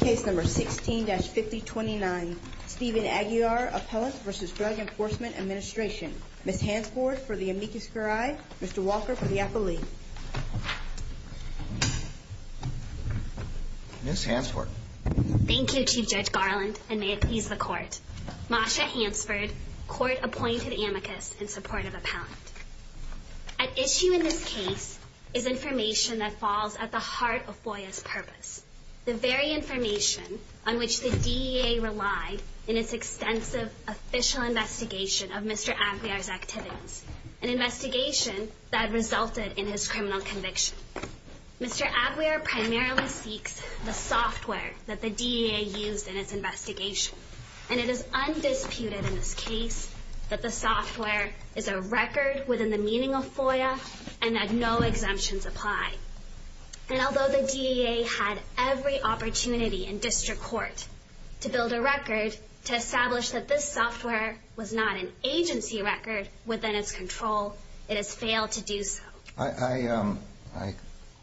Case number 16-5029. Stephen Aguiar, Appellant v. Drug Enforcement Administration. Ms. Hansford for the amicus curiae, Mr. Walker for the appellee. Ms. Hansford. Thank you, Chief Judge Garland, and may it please the Court. Masha Hansford, Court-appointed amicus in support of Appellant. At issue in this case is information that falls at the heart of FOIA's purpose, the very information on which the DEA relied in its extensive official investigation of Mr. Aguiar's activities, an investigation that resulted in his criminal conviction. Mr. Aguiar primarily seeks the software that the DEA used in its investigation, and it is undisputed in this case that the software is a record within the meaning of FOIA and that no exemptions apply. And although the DEA had every opportunity in District Court to build a record to establish that this software was not an agency record within its control, it has failed to do so. I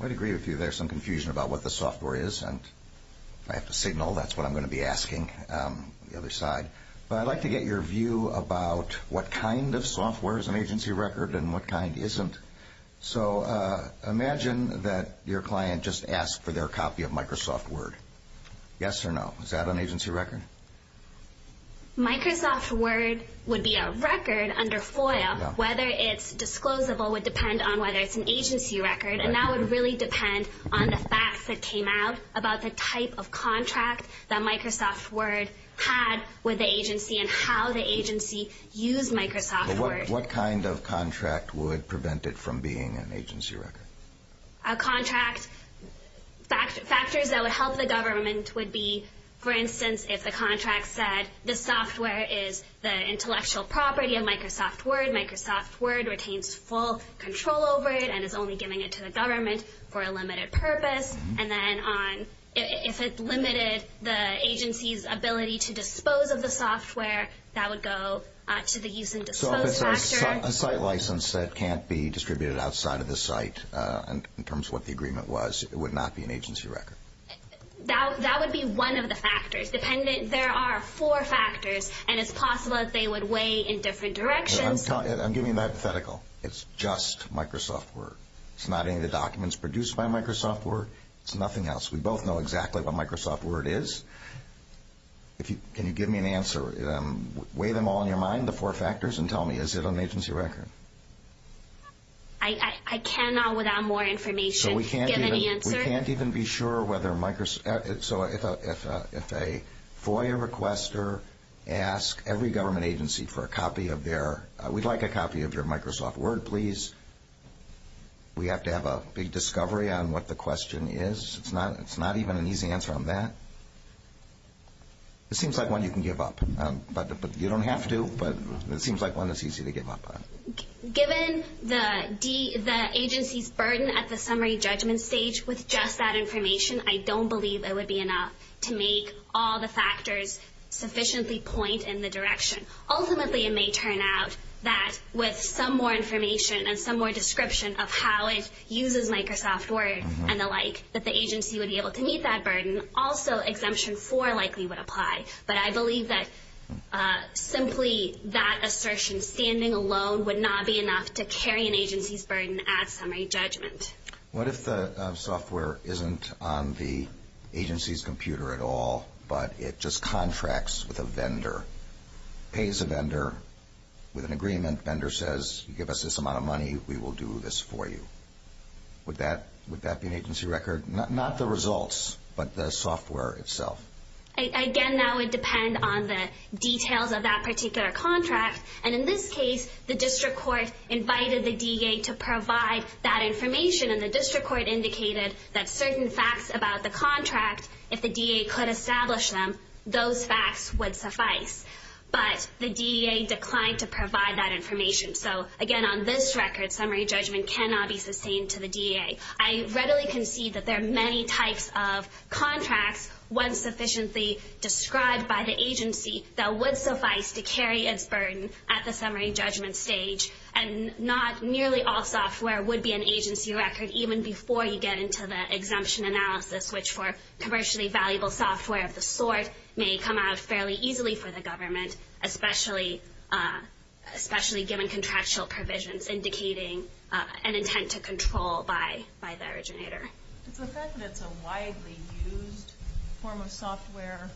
would agree with you there's some confusion about what the software is, and if I have to signal, that's what I'm going to be asking on the other side. But I'd like to get your view about what kind of software is an agency record and what kind isn't. So imagine that your client just asked for their copy of Microsoft Word. Yes or no? Is that an agency record? Microsoft Word would be a record under FOIA. Whether it's disclosable would depend on whether it's an agency record, and that would really depend on the facts that came out about the type of contract that Microsoft Word had with the agency and how the agency used Microsoft Word. But what kind of contract would prevent it from being an agency record? Contract factors that would help the government would be, for instance, if the contract said this software is the intellectual property of Microsoft Word, Microsoft Word retains full control over it and is only giving it to the government for a limited purpose. And then if it limited the agency's ability to dispose of the software, that would go to the use and dispose factor. A site license that can't be distributed outside of the site in terms of what the agreement was would not be an agency record. That would be one of the factors. There are four factors, and it's possible that they would weigh in different directions. I'm giving you a hypothetical. It's just Microsoft Word. It's not any of the documents produced by Microsoft Word. It's nothing else. We both know exactly what Microsoft Word is. Can you give me an answer? Weigh them all in your mind, the four factors, and tell me, is it an agency record? I cannot, without more information, give an answer. We can't even be sure whether Microsoft – so if a FOIA requester asks every government agency for a copy of their – we'd like a copy of your Microsoft Word, please. We have to have a big discovery on what the question is. It's not even an easy answer on that. It seems like one you can give up, but you don't have to, but it seems like one that's easy to give up on. Given the agency's burden at the summary judgment stage with just that information, I don't believe it would be enough to make all the factors sufficiently point in the direction. Ultimately, it may turn out that with some more information and some more description of how it uses Microsoft Word and the like, that the agency would be able to meet that burden. Also, Exemption 4 likely would apply, but I believe that simply that assertion, standing alone, would not be enough to carry an agency's burden at summary judgment. What if the software isn't on the agency's computer at all, but it just contracts with a vendor? Pays a vendor with an agreement. Vendor says, you give us this amount of money, we will do this for you. Would that be an agency record? Not the results, but the software itself? Again, that would depend on the details of that particular contract. In this case, the district court invited the DEA to provide that information, and the district court indicated that certain facts about the contract, if the DEA could establish them, those facts would suffice. But the DEA declined to provide that information. So, again, on this record, summary judgment cannot be sustained to the DEA. I readily concede that there are many types of contracts, once sufficiently described by the agency, that would suffice to carry its burden at the summary judgment stage. And not nearly all software would be an agency record, even before you get into the exemption analysis, which for commercially valuable software of the sort may come out fairly easily for the government, especially given contractual provisions indicating an intent to control by the originator. Is the fact that it's a widely used form of software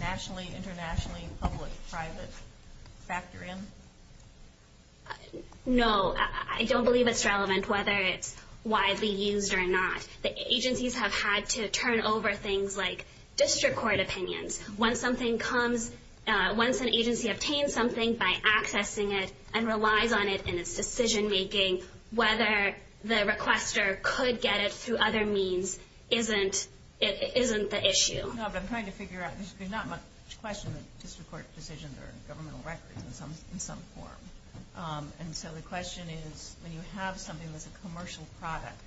nationally, internationally, public, private, factor in? No, I don't believe it's relevant whether it's widely used or not. The agencies have had to turn over things like district court opinions. Once something comes, once an agency obtains something by accessing it and relies on it in its decision making, whether the requester could get it through other means isn't the issue. No, but I'm trying to figure out, there's not much question that district court decisions are in governmental records in some form. And so the question is, when you have something that's a commercial product,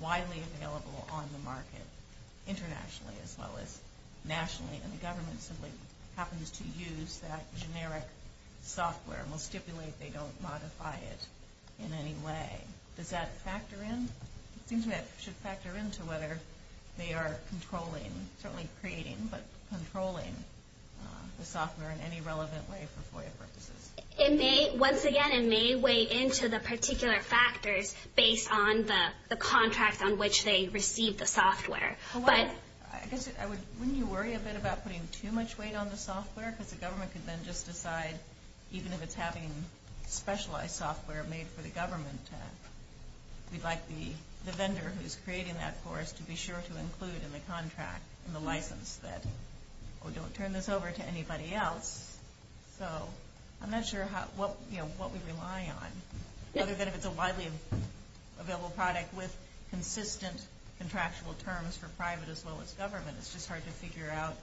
widely available on the market, internationally as well as nationally, and the government simply happens to use that generic software and will stipulate they don't modify it in any way, does that factor in? It seems that it should factor into whether they are controlling, certainly creating, but controlling the software in any relevant way for FOIA purposes. Once again, it may weigh into the particular factors based on the contract on which they receive the software. Wouldn't you worry a bit about putting too much weight on the software? Because the government could then just decide, even if it's having specialized software made for the government, we'd like the vendor who's creating that course to be sure to include in the contract, in the license, that, oh, don't turn this over to anybody else. So I'm not sure what we rely on. Other than if it's a widely available product with consistent contractual terms for private as well as government, it's just hard to figure out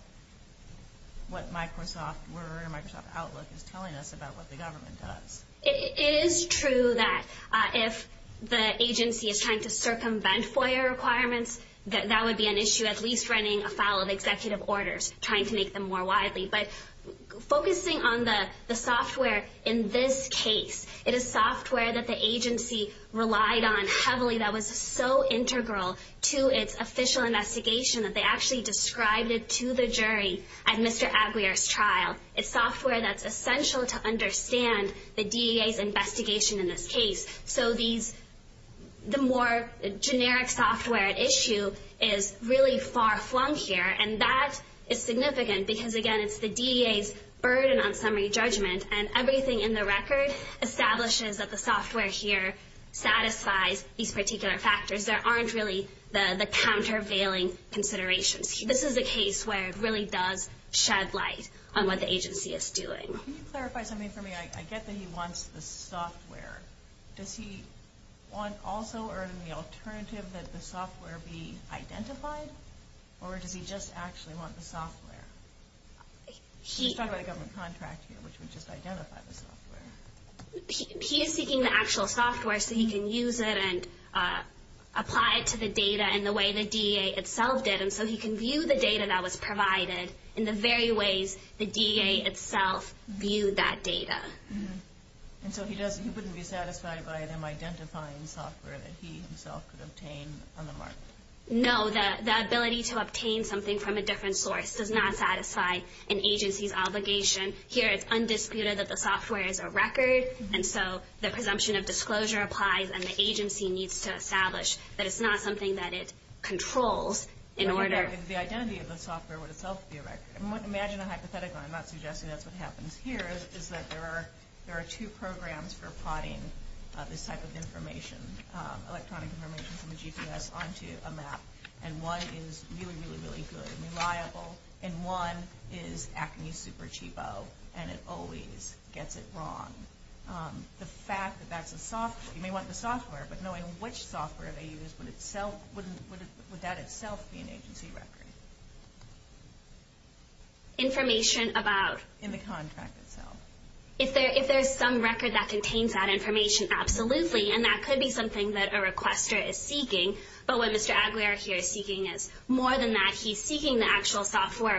what Microsoft Word or Microsoft Outlook is telling us about what the government does. It is true that if the agency is trying to circumvent FOIA requirements, that that would be an issue, at least running a file of executive orders, trying to make them more widely. But focusing on the software in this case, it is software that the agency relied on heavily that was so integral to its official investigation that they actually described it to the jury at Mr. Aguiar's trial. It's software that's essential to understand the DEA's investigation in this case. So the more generic software issue is really far-flung here. And that is significant because, again, it's the DEA's burden on summary judgment, and everything in the record establishes that the software here satisfies these particular factors. There aren't really the countervailing considerations. This is a case where it really does shed light on what the agency is doing. Can you clarify something for me? I get that he wants the software. Does he want also or in the alternative that the software be identified, or does he just actually want the software? She's talking about a government contract here, which would just identify the software. He is seeking the actual software so he can use it and apply it to the data in the way the DEA itself did. And so he can view the data that was provided in the very ways the DEA itself viewed that data. And so he wouldn't be satisfied by them identifying software that he himself could obtain on the market? No, the ability to obtain something from a different source does not satisfy an agency's obligation. Here it's undisputed that the software is a record, and so the presumption of disclosure applies, and the agency needs to establish that it's not something that it controls in order- The identity of the software would itself be a record. Imagine a hypothetical. I'm not suggesting that's what happens here, is that there are two programs for plotting this type of information, electronic information from the GPS onto a map, and one is really, really, really good and reliable, and one is acne super cheapo, and it always gets it wrong. The fact that that's a software, you may want the software, but knowing which software they use, would that itself be an agency record? Information about- In the contract itself. If there's some record that contains that information, absolutely, and that could be something that a requester is seeking. But what Mr. Aguiar here is seeking is more than that.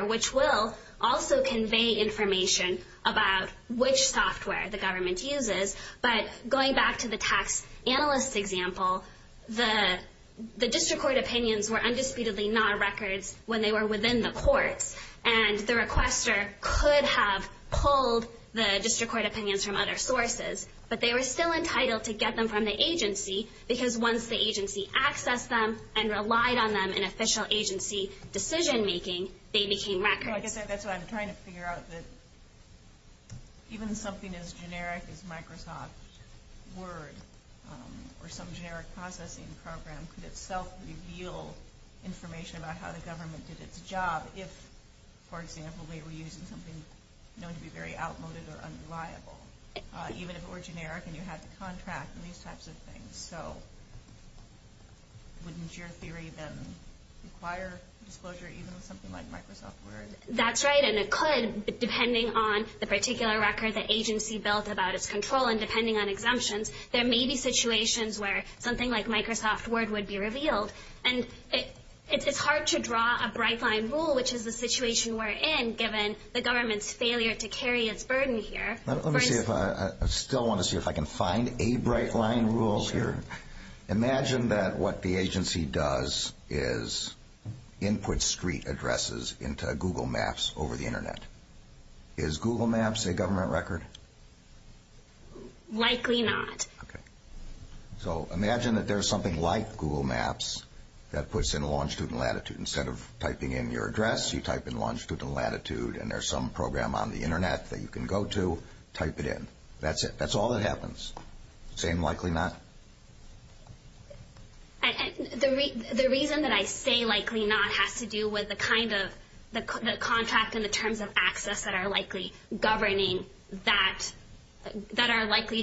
which will also convey information about which software the government uses, but going back to the tax analyst example, the district court opinions were undisputedly not records when they were within the courts, and the requester could have pulled the district court opinions from other sources, but they were still entitled to get them from the agency, because once the agency accessed them and relied on them in official agency decision-making, they became records. That's what I'm trying to figure out, that even something as generic as Microsoft Word or some generic processing program could itself reveal information about how the government did its job if, for example, they were using something known to be very outmoded or unreliable, even if it were generic and you had the contract and these types of things. So wouldn't your theory then require disclosure even with something like Microsoft Word? That's right, and it could, depending on the particular record the agency built about its control and depending on exemptions. There may be situations where something like Microsoft Word would be revealed, and it's hard to draw a bright-line rule, which is the situation we're in, given the government's failure to carry its burden here. I still want to see if I can find a bright-line rule here. Imagine that what the agency does is input street addresses into Google Maps over the Internet. Is Google Maps a government record? Likely not. Okay. So imagine that there's something like Google Maps that puts in longitude and latitude. Instead of typing in your address, you type in longitude and latitude, and there's some program on the Internet that you can go to, type it in. That's it. That's all that happens. Same likely not? The reason that I say likely not has to do with the kind of contract and the terms of access that are likely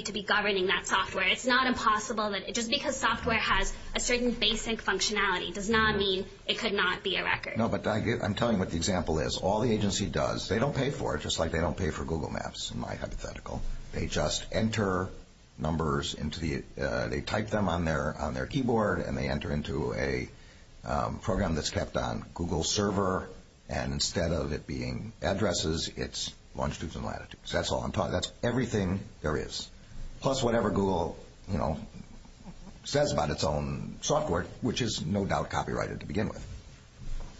to be governing that software. It's not impossible that just because software has a certain basic functionality does not mean it could not be a record. No, but I'm telling you what the example is. All the agency does, they don't pay for it just like they don't pay for Google Maps, in my hypothetical. They just enter numbers into the, they type them on their keyboard, and they enter into a program that's kept on Google's server, and instead of it being addresses, it's longitudes and latitudes. That's all I'm talking about. That's everything there is, plus whatever Google, you know, says about its own software, which is no doubt copyrighted to begin with.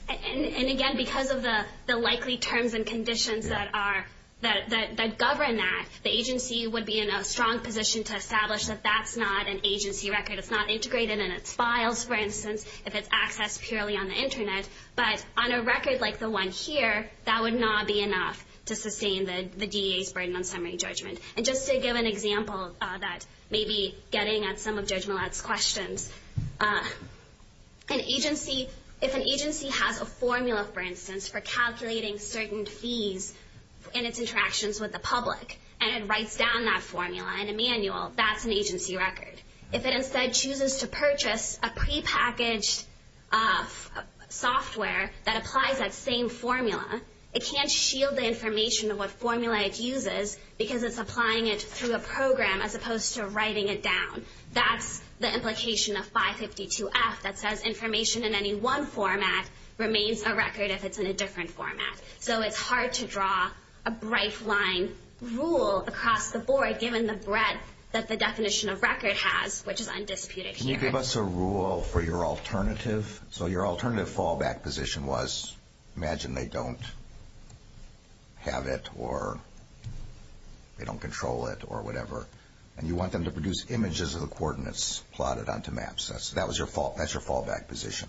And again, because of the likely terms and conditions that govern that, the agency would be in a strong position to establish that that's not an agency record. It's not integrated in its files, for instance, if it's accessed purely on the Internet. But on a record like the one here, that would not be enough to sustain the DEA's burden on summary judgment. And just to give an example that may be getting at some of Judge Millat's questions, an agency, if an agency has a formula, for instance, for calculating certain fees in its interactions with the public, and it writes down that formula in a manual, that's an agency record. If it instead chooses to purchase a prepackaged software that applies that same formula, it can't shield the information of what formula it uses, because it's applying it through a program as opposed to writing it down. That's the implication of 552F that says information in any one format remains a record if it's in a different format. So it's hard to draw a bright line rule across the board, given the breadth that the definition of record has, which is undisputed here. Can you give us a rule for your alternative? So your alternative fallback position was, imagine they don't have it, or they don't control it, or whatever. And you want them to produce images of the coordinates plotted onto maps. That's your fallback position.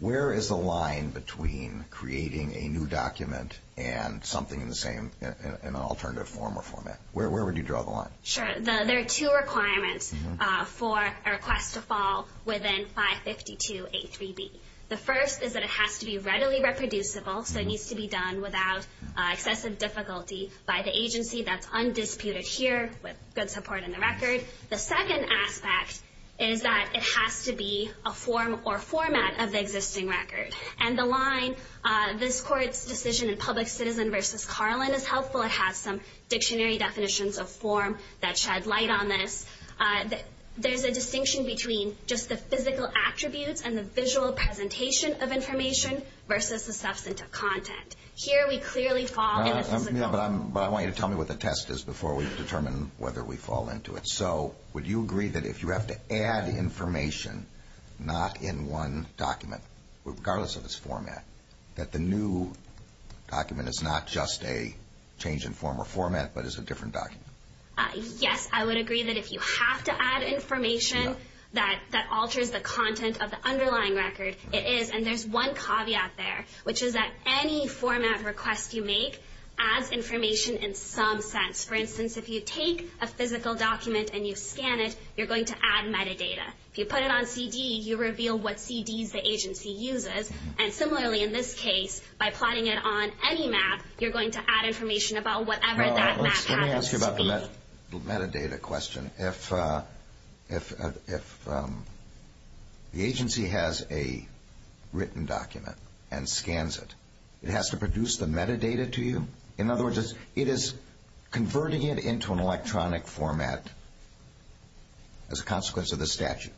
Where is the line between creating a new document and something in an alternative form or format? Where would you draw the line? Sure. There are two requirements for a request to fall within 552A3B. The first is that it has to be readily reproducible, so it needs to be done without excessive difficulty by the agency. That's undisputed here, with good support in the record. The second aspect is that it has to be a form or format of the existing record. And the line, this court's decision in Public Citizen v. Carlin is helpful. It has some dictionary definitions of form that shed light on this. There's a distinction between just the physical attributes and the visual presentation of information versus the substance of content. Here we clearly fall in the physical. But I want you to tell me what the test is before we determine whether we fall into it. So would you agree that if you have to add information, not in one document, regardless of its format, that the new document is not just a change in form or format, but is a different document? Yes, I would agree that if you have to add information that alters the content of the underlying record, it is. And there's one caveat there, which is that any format request you make adds information in some sense. For instance, if you take a physical document and you scan it, you're going to add metadata. If you put it on CD, you reveal what CDs the agency uses. And similarly in this case, by plotting it on any map, you're going to add information about whatever that map happens to be. Let me ask you about the metadata question. If the agency has a written document and scans it, it has to produce the metadata to you? In other words, it is converting it into an electronic format as a consequence of the statute.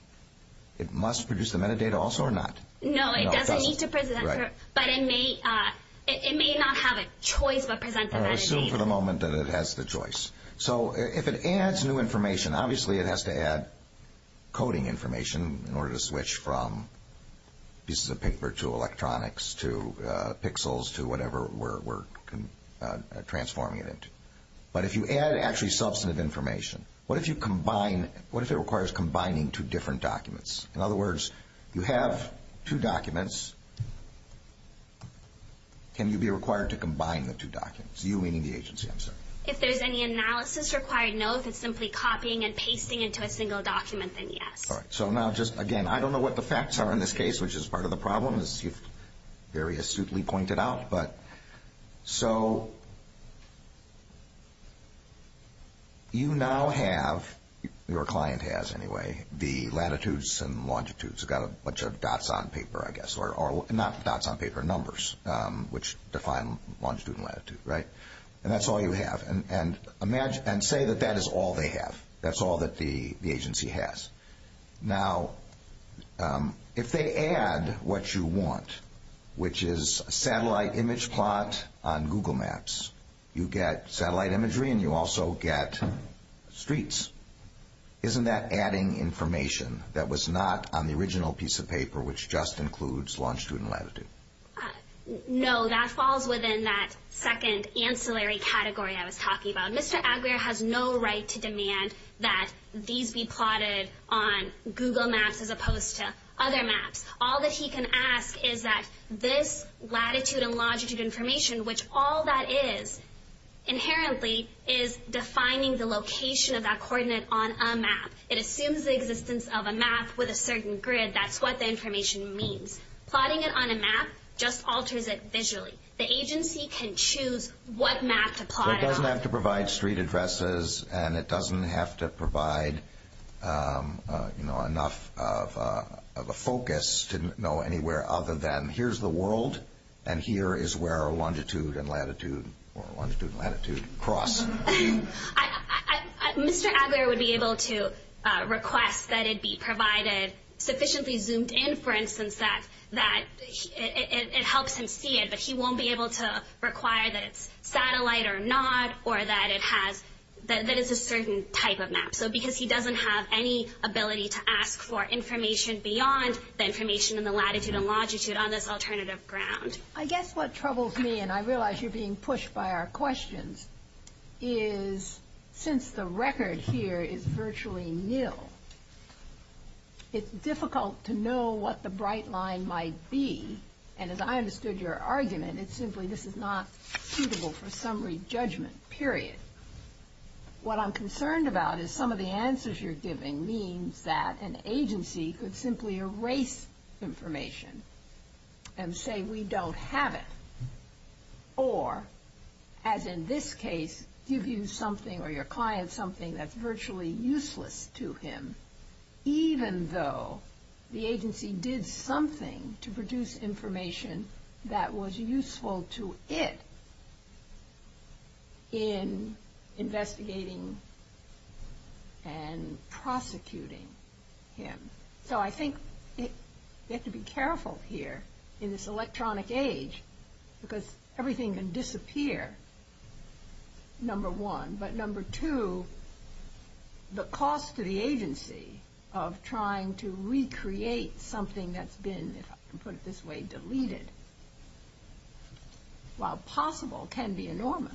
It must produce the metadata also or not? No, it doesn't need to present. But it may not have a choice but present the metadata. I assume for the moment that it has the choice. So if it adds new information, obviously it has to add coding information in order to switch from pieces of paper to electronics, to pixels to whatever we're transforming it into. But if you add actually substantive information, what if it requires combining two different documents? In other words, you have two documents. Can you be required to combine the two documents? You meaning the agency, I'm sorry. If there's any analysis required, no. If it's simply copying and pasting into a single document, then yes. All right. So now just again, I don't know what the facts are in this case, which is part of the problem, as you've very astutely pointed out. So you now have, your client has anyway, the latitudes and longitudes. They've got a bunch of dots on paper, I guess. Or not dots on paper, numbers, which define longitude and latitude, right? And that's all you have. And say that that is all they have. That's all that the agency has. Now, if they add what you want, which is satellite image plot on Google Maps, you get satellite imagery and you also get streets. Isn't that adding information that was not on the original piece of paper, which just includes longitude and latitude? No, that falls within that second ancillary category I was talking about. Mr. Aguirre has no right to demand that these be plotted on Google Maps as opposed to other maps. All that he can ask is that this latitude and longitude information, which all that is inherently is defining the location of that coordinate on a map. It assumes the existence of a map with a certain grid. That's what the information means. Plotting it on a map just alters it visually. The agency can choose what map to plot on. It doesn't have to provide street addresses and it doesn't have to provide enough of a focus to know anywhere other than here's the world and here is where longitude and latitude cross. Mr. Aguirre would be able to request that it be provided sufficiently zoomed in, for instance, that it helps him see it. But he won't be able to require that it's satellite or not or that it's a certain type of map. Because he doesn't have any ability to ask for information beyond the information in the latitude and longitude on this alternative ground. I guess what troubles me, and I realize you're being pushed by our questions, is since the record here is virtually nil, it's difficult to know what the bright line might be. And as I understood your argument, it's simply this is not suitable for summary judgment, period. What I'm concerned about is some of the answers you're giving means that an agency could simply erase information and say we don't have it. Or, as in this case, give you something or your client something that's virtually useless to him, even though the agency did something to produce information that was useful to it in investigating and prosecuting him. So I think we have to be careful here in this electronic age, because everything can disappear, number one. But number two, the cost to the agency of trying to recreate something that's been, if I can put it this way, deleted, while possible, can be enormous.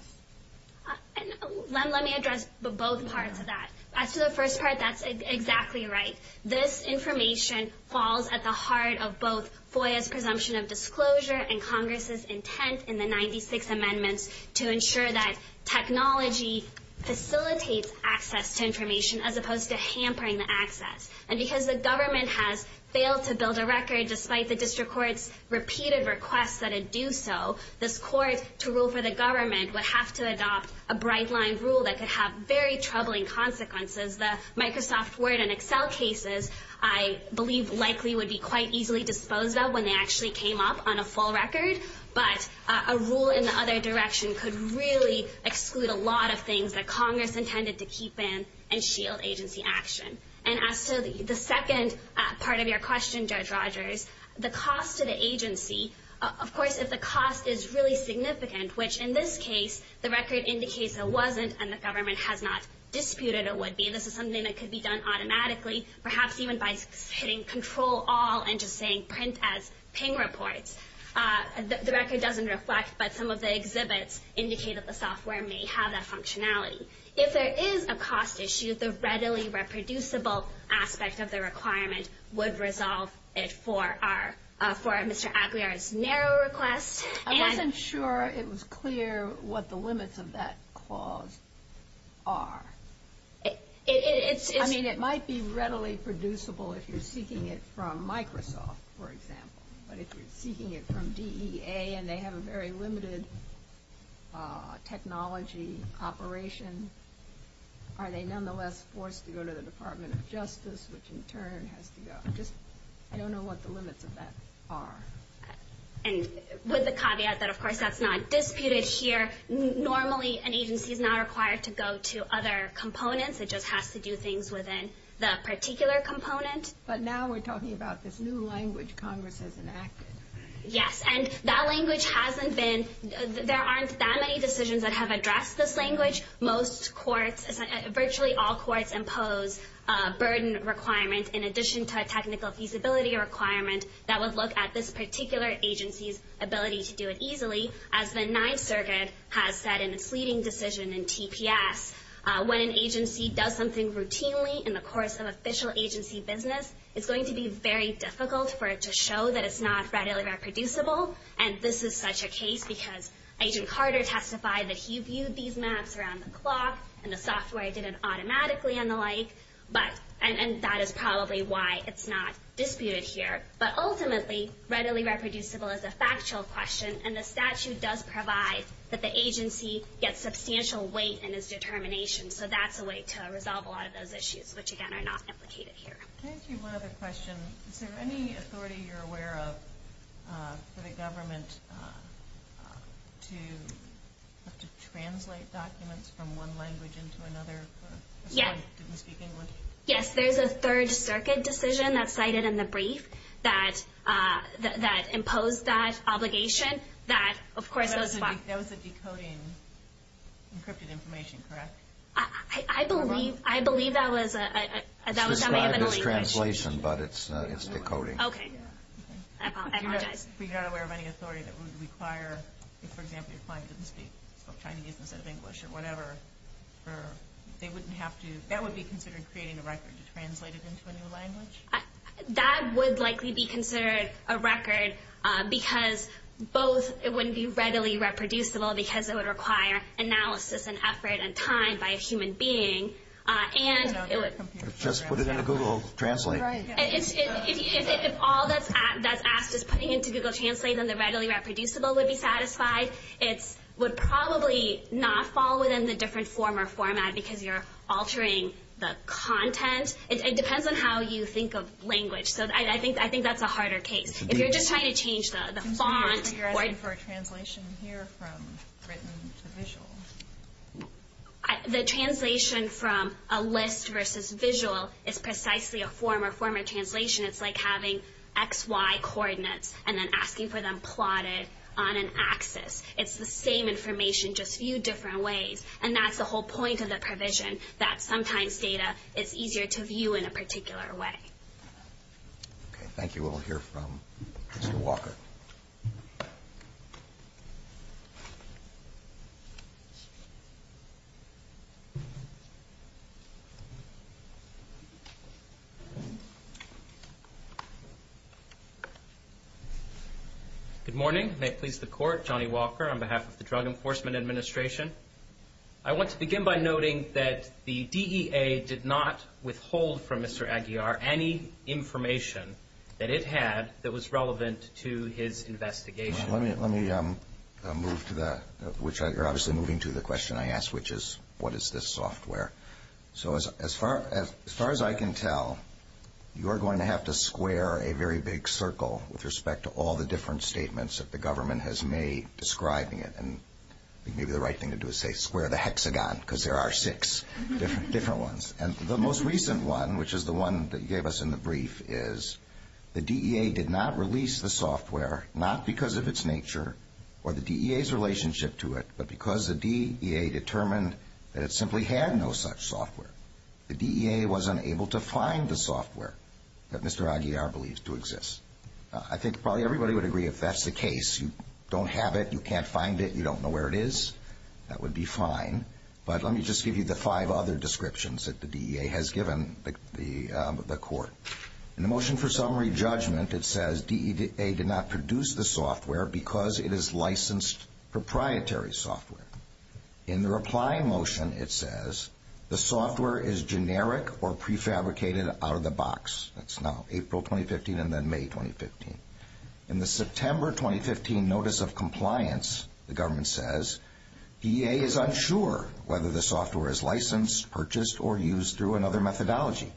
And let me address both parts of that. As to the first part, that's exactly right. This information falls at the heart of both FOIA's presumption of disclosure and Congress' intent in the 96 amendments to ensure that technology facilitates access to information as opposed to hampering the access. And because the government has failed to build a record, despite the district court's repeated requests that it do so, this court, to rule for the government, would have to adopt a bright-line rule that could have very troubling consequences. The Microsoft Word and Excel cases, I believe, likely would be quite easily disposed of when they actually came up on a full record. But a rule in the other direction could really exclude a lot of things that Congress intended to keep in and shield agency action. And as to the second part of your question, Judge Rogers, the cost to the agency, of course, if the cost is really significant, which in this case, the record indicates it wasn't and the government has not disputed it would be, this is something that could be done automatically, perhaps even by hitting Control-All and just saying print as ping reports. The record doesn't reflect, but some of the exhibits indicate that the software may have that functionality. If there is a cost issue, the readily reproducible aspect of the requirement would resolve it for Mr. Aguiar's narrow request. I wasn't sure it was clear what the limits of that clause are. I mean, it might be readily producible if you're seeking it from Microsoft, for example. But if you're seeking it from DEA and they have a very limited technology operation, are they nonetheless forced to go to the Department of Justice, which in turn has to go? I don't know what the limits of that are. And with the caveat that, of course, that's not disputed here, normally an agency is not required to go to other components. It just has to do things within that particular component. But now we're talking about this new language Congress has enacted. Yes. And that language hasn't been – there aren't that many decisions that have addressed this language. Virtually all courts impose a burden requirement in addition to a technical feasibility requirement that would look at this particular agency's ability to do it easily, as the Ninth Circuit has said in its leading decision in TPS. When an agency does something routinely in the course of official agency business, it's going to be very difficult for it to show that it's not readily reproducible. And this is such a case because Agent Carter testified that he viewed these maps around the clock and the software did it automatically and the like. But – and that is probably why it's not disputed here. But ultimately, readily reproducible is a factual question, and the statute does provide that the agency gets substantial weight in its determination. So that's a way to resolve a lot of those issues, which, again, are not implicated here. Thank you. One other question. Is there any authority you're aware of for the government to have to translate documents from one language into another? Yes. This one didn't speak English. Yes. There's a Third Circuit decision that's cited in the brief that imposed that obligation. That, of course, was – That was a decoding encrypted information, correct? I believe – I believe that was a – that was something of a deletion. It's a translation, but it's decoding. Okay. I apologize. You're not aware of any authority that would require – if, for example, your client didn't speak – spoke Chinese instead of English or whatever, they wouldn't have to – that would be considered creating a record to translate it into a new language? That would likely be considered a record because both it wouldn't be readily reproducible because it would require analysis and effort and time by a human being, and it would – Just put it into Google Translate. Right. If all that's asked is putting it into Google Translate, then the readily reproducible would be satisfied. It would probably not fall within the different form or format because you're altering the content. It depends on how you think of language. So I think that's a harder case. If you're just trying to change the font or – I'm sorry, but you're asking for a translation here from written to visual. The translation from a list versus visual is precisely a form or format translation. It's like having X, Y coordinates and then asking for them plotted on an axis. It's the same information, just viewed different ways. And that's the whole point of the provision, that sometimes data is easier to view in a particular way. Okay. Thank you. We'll hear from Mr. Walker. Thank you. Good morning. May it please the Court, Johnny Walker on behalf of the Drug Enforcement Administration. I want to begin by noting that the DEA did not withhold from Mr. Aguiar any information that it had that was relevant to his investigation. Let me move to the – you're obviously moving to the question I asked, which is what is this software. So as far as I can tell, you're going to have to square a very big circle with respect to all the different statements that the government has made describing it. And maybe the right thing to do is say square the hexagon because there are six different ones. And the most recent one, which is the one that you gave us in the brief, is the DEA did not release the software not because of its nature or the DEA's relationship to it, but because the DEA determined that it simply had no such software. The DEA was unable to find the software that Mr. Aguiar believed to exist. I think probably everybody would agree if that's the case, you don't have it, you can't find it, you don't know where it is, that would be fine. But let me just give you the five other descriptions that the DEA has given the court. In the motion for summary judgment, it says DEA did not produce the software because it is licensed proprietary software. In the reply motion, it says the software is generic or prefabricated out of the box. That's now April 2015 and then May 2015. In the September 2015 notice of compliance, the government says DEA is unsure whether the software is licensed, purchased, or used through another methodology.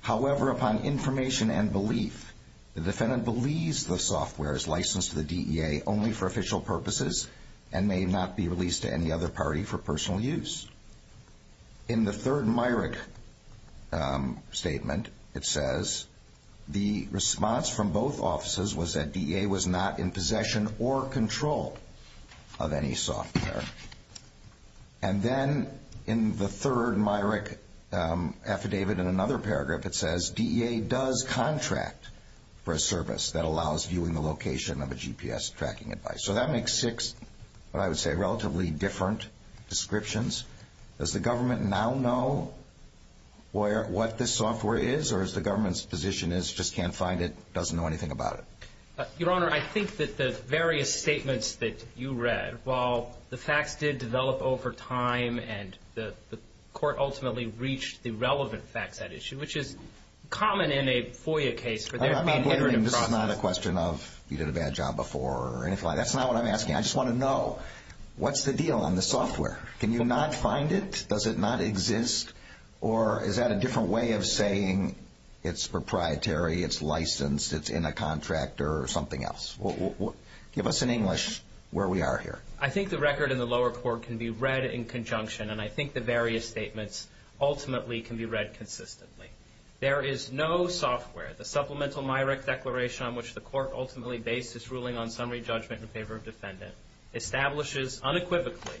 However, upon information and belief, the defendant believes the software is licensed to the DEA only for official purposes and may not be released to any other party for personal use. In the third Myrick statement, it says the response from both offices was that DEA was not in possession or control of any software. And then in the third Myrick affidavit in another paragraph, it says DEA does contract for a service that allows viewing the location of a GPS tracking device. So that makes six, what I would say, relatively different descriptions. Does the government now know what this software is or does the government's position is just can't find it, doesn't know anything about it? Your Honor, I think that the various statements that you read, while the facts did develop over time and the court ultimately reached the relevant facts at issue, which is common in a FOIA case. This is not a question of you did a bad job before or anything like that. That's not what I'm asking. I just want to know, what's the deal on the software? Can you not find it? Does it not exist? Or is that a different way of saying it's proprietary, it's licensed, it's in a contract or something else? Give us an English where we are here. I think the record in the lower court can be read in conjunction, and I think the various statements ultimately can be read consistently. There is no software. The supplemental MIRAC declaration on which the court ultimately based its ruling on summary judgment in favor of defendant establishes unequivocally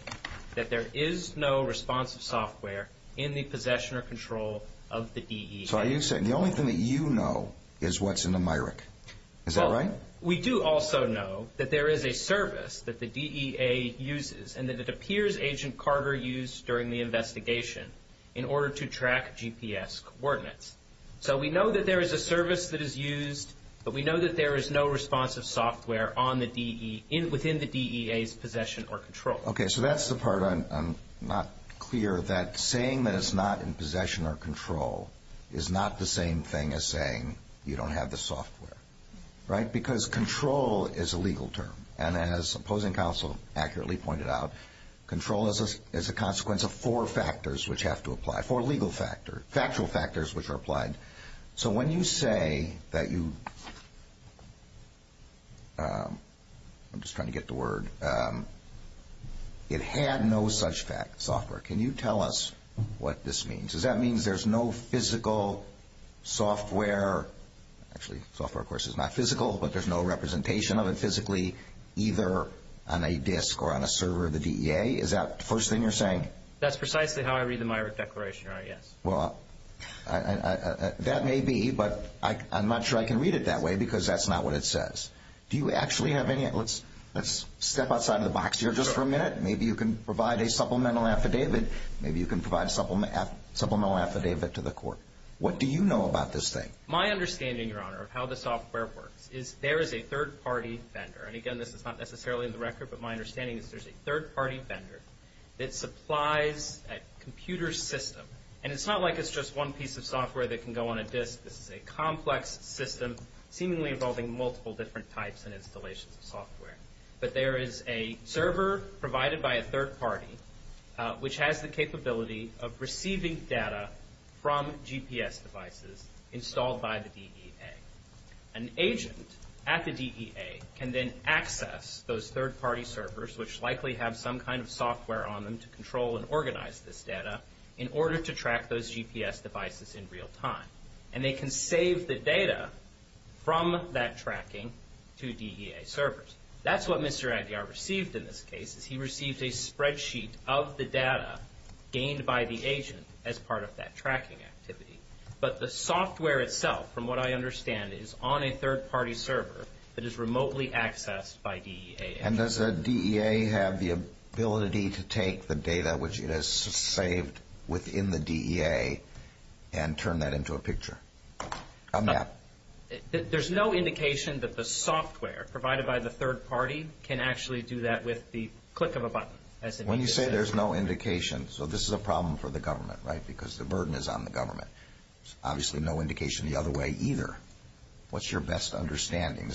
that there is no responsive software in the possession or control of the DEA. So are you saying the only thing that you know is what's in the MIRAC? Is that right? We do also know that there is a service that the DEA uses and that it appears Agent Carter used during the investigation in order to track GPS coordinates. So we know that there is a service that is used, but we know that there is no responsive software within the DEA's possession or control. Okay, so that's the part I'm not clear that saying that it's not in possession or control is not the same thing as saying you don't have the software. Right? Because control is a legal term. And as opposing counsel accurately pointed out, control is a consequence of four factors which have to apply, four legal factors, factual factors which are applied. So when you say that you, I'm just trying to get the word, it had no such software. Can you tell us what this means? Does that mean there's no physical software, actually software of course is not physical, but there's no representation of it physically either on a disk or on a server of the DEA? Is that the first thing you're saying? That's precisely how I read the MIRAC declaration, yes. Well, that may be, but I'm not sure I can read it that way because that's not what it says. Do you actually have any, let's step outside of the box here just for a minute. Maybe you can provide a supplemental affidavit. Maybe you can provide a supplemental affidavit to the court. What do you know about this thing? My understanding, Your Honor, of how the software works is there is a third-party vendor. And, again, this is not necessarily in the record, but my understanding is there's a third-party vendor that supplies a computer system. And it's not like it's just one piece of software that can go on a disk. This is a complex system seemingly involving multiple different types and installations of software. But there is a server provided by a third-party, which has the capability of receiving data from GPS devices installed by the DEA. An agent at the DEA can then access those third-party servers, which likely have some kind of software on them to control and organize this data, in order to track those GPS devices in real time. And they can save the data from that tracking to DEA servers. That's what Mr. Aguiar received in this case, is he received a spreadsheet of the data gained by the agent as part of that tracking activity. But the software itself, from what I understand, is on a third-party server that is remotely accessed by DEA. And does the DEA have the ability to take the data which it has saved within the DEA and turn that into a picture, a map? There's no indication that the software provided by the third-party can actually do that with the click of a button. When you say there's no indication, so this is a problem for the government, right? Because the burden is on the government. Obviously no indication the other way either. What's your best understanding?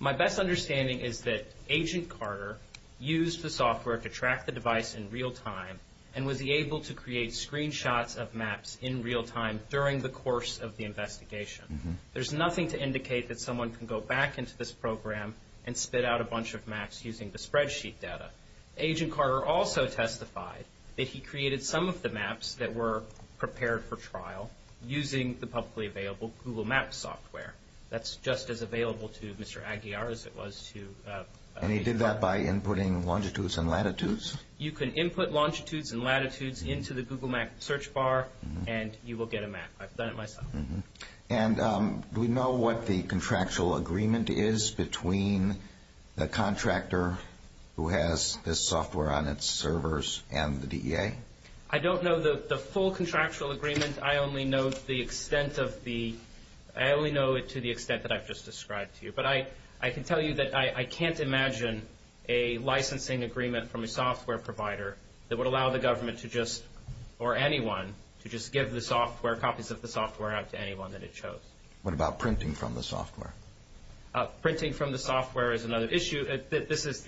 My best understanding is that Agent Carter used the software to track the device in real time and was able to create screenshots of maps in real time during the course of the investigation. There's nothing to indicate that someone can go back into this program and spit out a bunch of maps using the spreadsheet data. Agent Carter also testified that he created some of the maps that were prepared for trial using the publicly available Google Maps software. That's just as available to Mr. Aguiar as it was to Agent Carter. And he did that by inputting longitudes and latitudes? You can input longitudes and latitudes into the Google Map search bar and you will get a map. I've done it myself. And do we know what the contractual agreement is between the contractor who has this software on its servers and the DEA? I don't know the full contractual agreement. I only know it to the extent that I've just described to you. But I can tell you that I can't imagine a licensing agreement from a software provider that would allow the government to just, or anyone, to just give the software, copies of the software out to anyone that it chose. What about printing from the software? Printing from the software is another issue. This is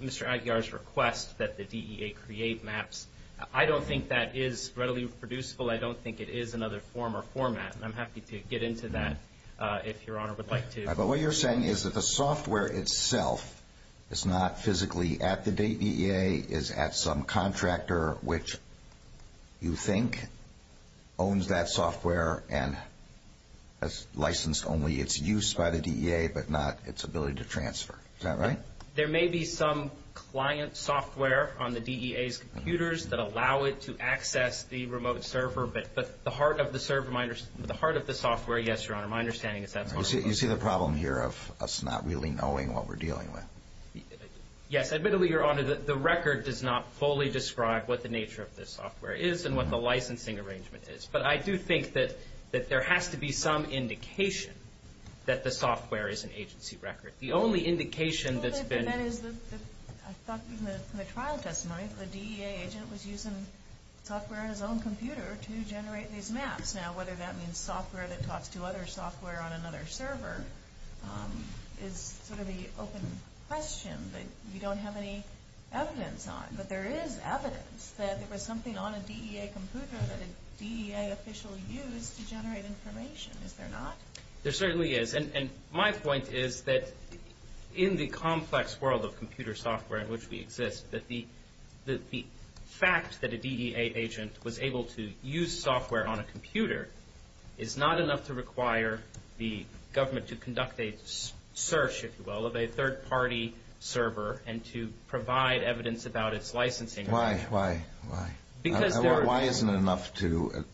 Mr. Aguiar's request that the DEA create maps. I don't think that is readily reproducible. I don't think it is another form or format, and I'm happy to get into that if Your Honor would like to. But what you're saying is that the software itself is not physically at the DEA, is at some contractor which you think owns that software and has licensed only its use by the DEA, but not its ability to transfer. Is that right? There may be some client software on the DEA's computers that allow it to access the remote server, but the heart of the software, yes, Your Honor, my understanding is that's where it is. You see the problem here of us not really knowing what we're dealing with. Yes. Admittedly, Your Honor, the record does not fully describe what the nature of this software is and what the licensing arrangement is. But I do think that there has to be some indication that the software is an agency record. The only indication that's been – I thought in the trial testimony that the DEA agent was using software in his own computer to generate these maps. Now, whether that means software that talks to other software on another server is sort of the open question that we don't have any evidence on. But there is evidence that there was something on a DEA computer that a DEA official used to generate information. Is there not? There certainly is. And my point is that in the complex world of computer software in which we exist, that the fact that a DEA agent was able to use software on a computer is not enough to require the government to conduct a search, if you will, of a third-party server and to provide evidence about its licensing agreement. Why? Why? Why? Because there are – Why isn't it enough to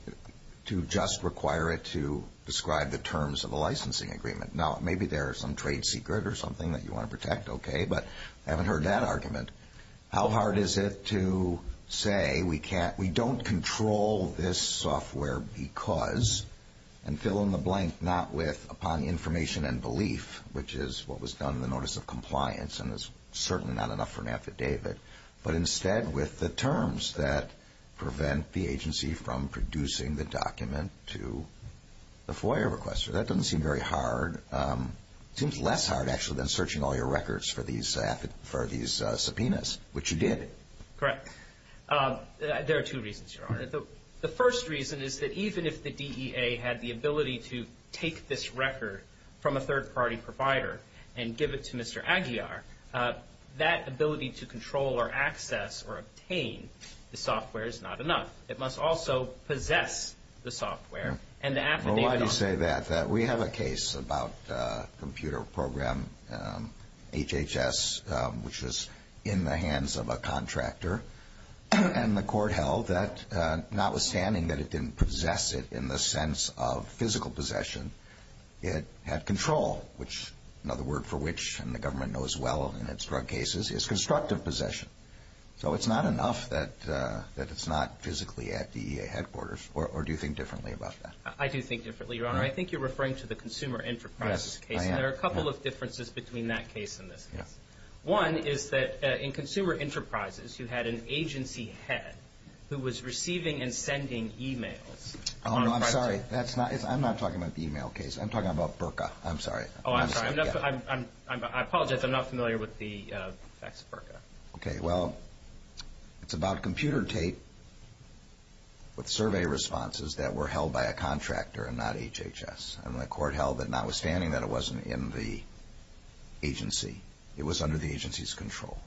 just require it to describe the terms of a licensing agreement? Now, maybe there is some trade secret or something that you want to protect, okay, but I haven't heard that argument. How hard is it to say we don't control this software because, and fill in the blank not with, upon information and belief, which is what was done in the notice of compliance and is certainly not enough for an affidavit, but instead with the terms that prevent the agency from producing the document to the FOIA requester? That doesn't seem very hard. It seems less hard, actually, than searching all your records for these subpoenas, which you did. Correct. There are two reasons, Your Honor. The first reason is that even if the DEA had the ability to take this record from a third-party provider and give it to Mr. Aguiar, that ability to control or access or obtain the software is not enough. It must also possess the software and the affidavit on it. Why do you say that? We have a case about a computer program, HHS, which was in the hands of a contractor, and the court held that notwithstanding that it didn't possess it in the sense of physical possession, it had control, which another word for which, and the government knows well in its drug cases, is constructive possession. So it's not enough that it's not physically at the headquarters. Or do you think differently about that? I do think differently, Your Honor. I think you're referring to the Consumer Enterprises case. Yes, I am. And there are a couple of differences between that case and this case. One is that in Consumer Enterprises, you had an agency head who was receiving and sending e-mails. Oh, no, I'm sorry. I'm not talking about the e-mail case. I'm talking about BRCA. I'm sorry. Oh, I'm sorry. I apologize. I'm not familiar with the facts of BRCA. Okay. Well, it's about computer tape with survey responses that were held by a contractor and not HHS. And the court held that notwithstanding that it wasn't in the agency, it was under the agency's control.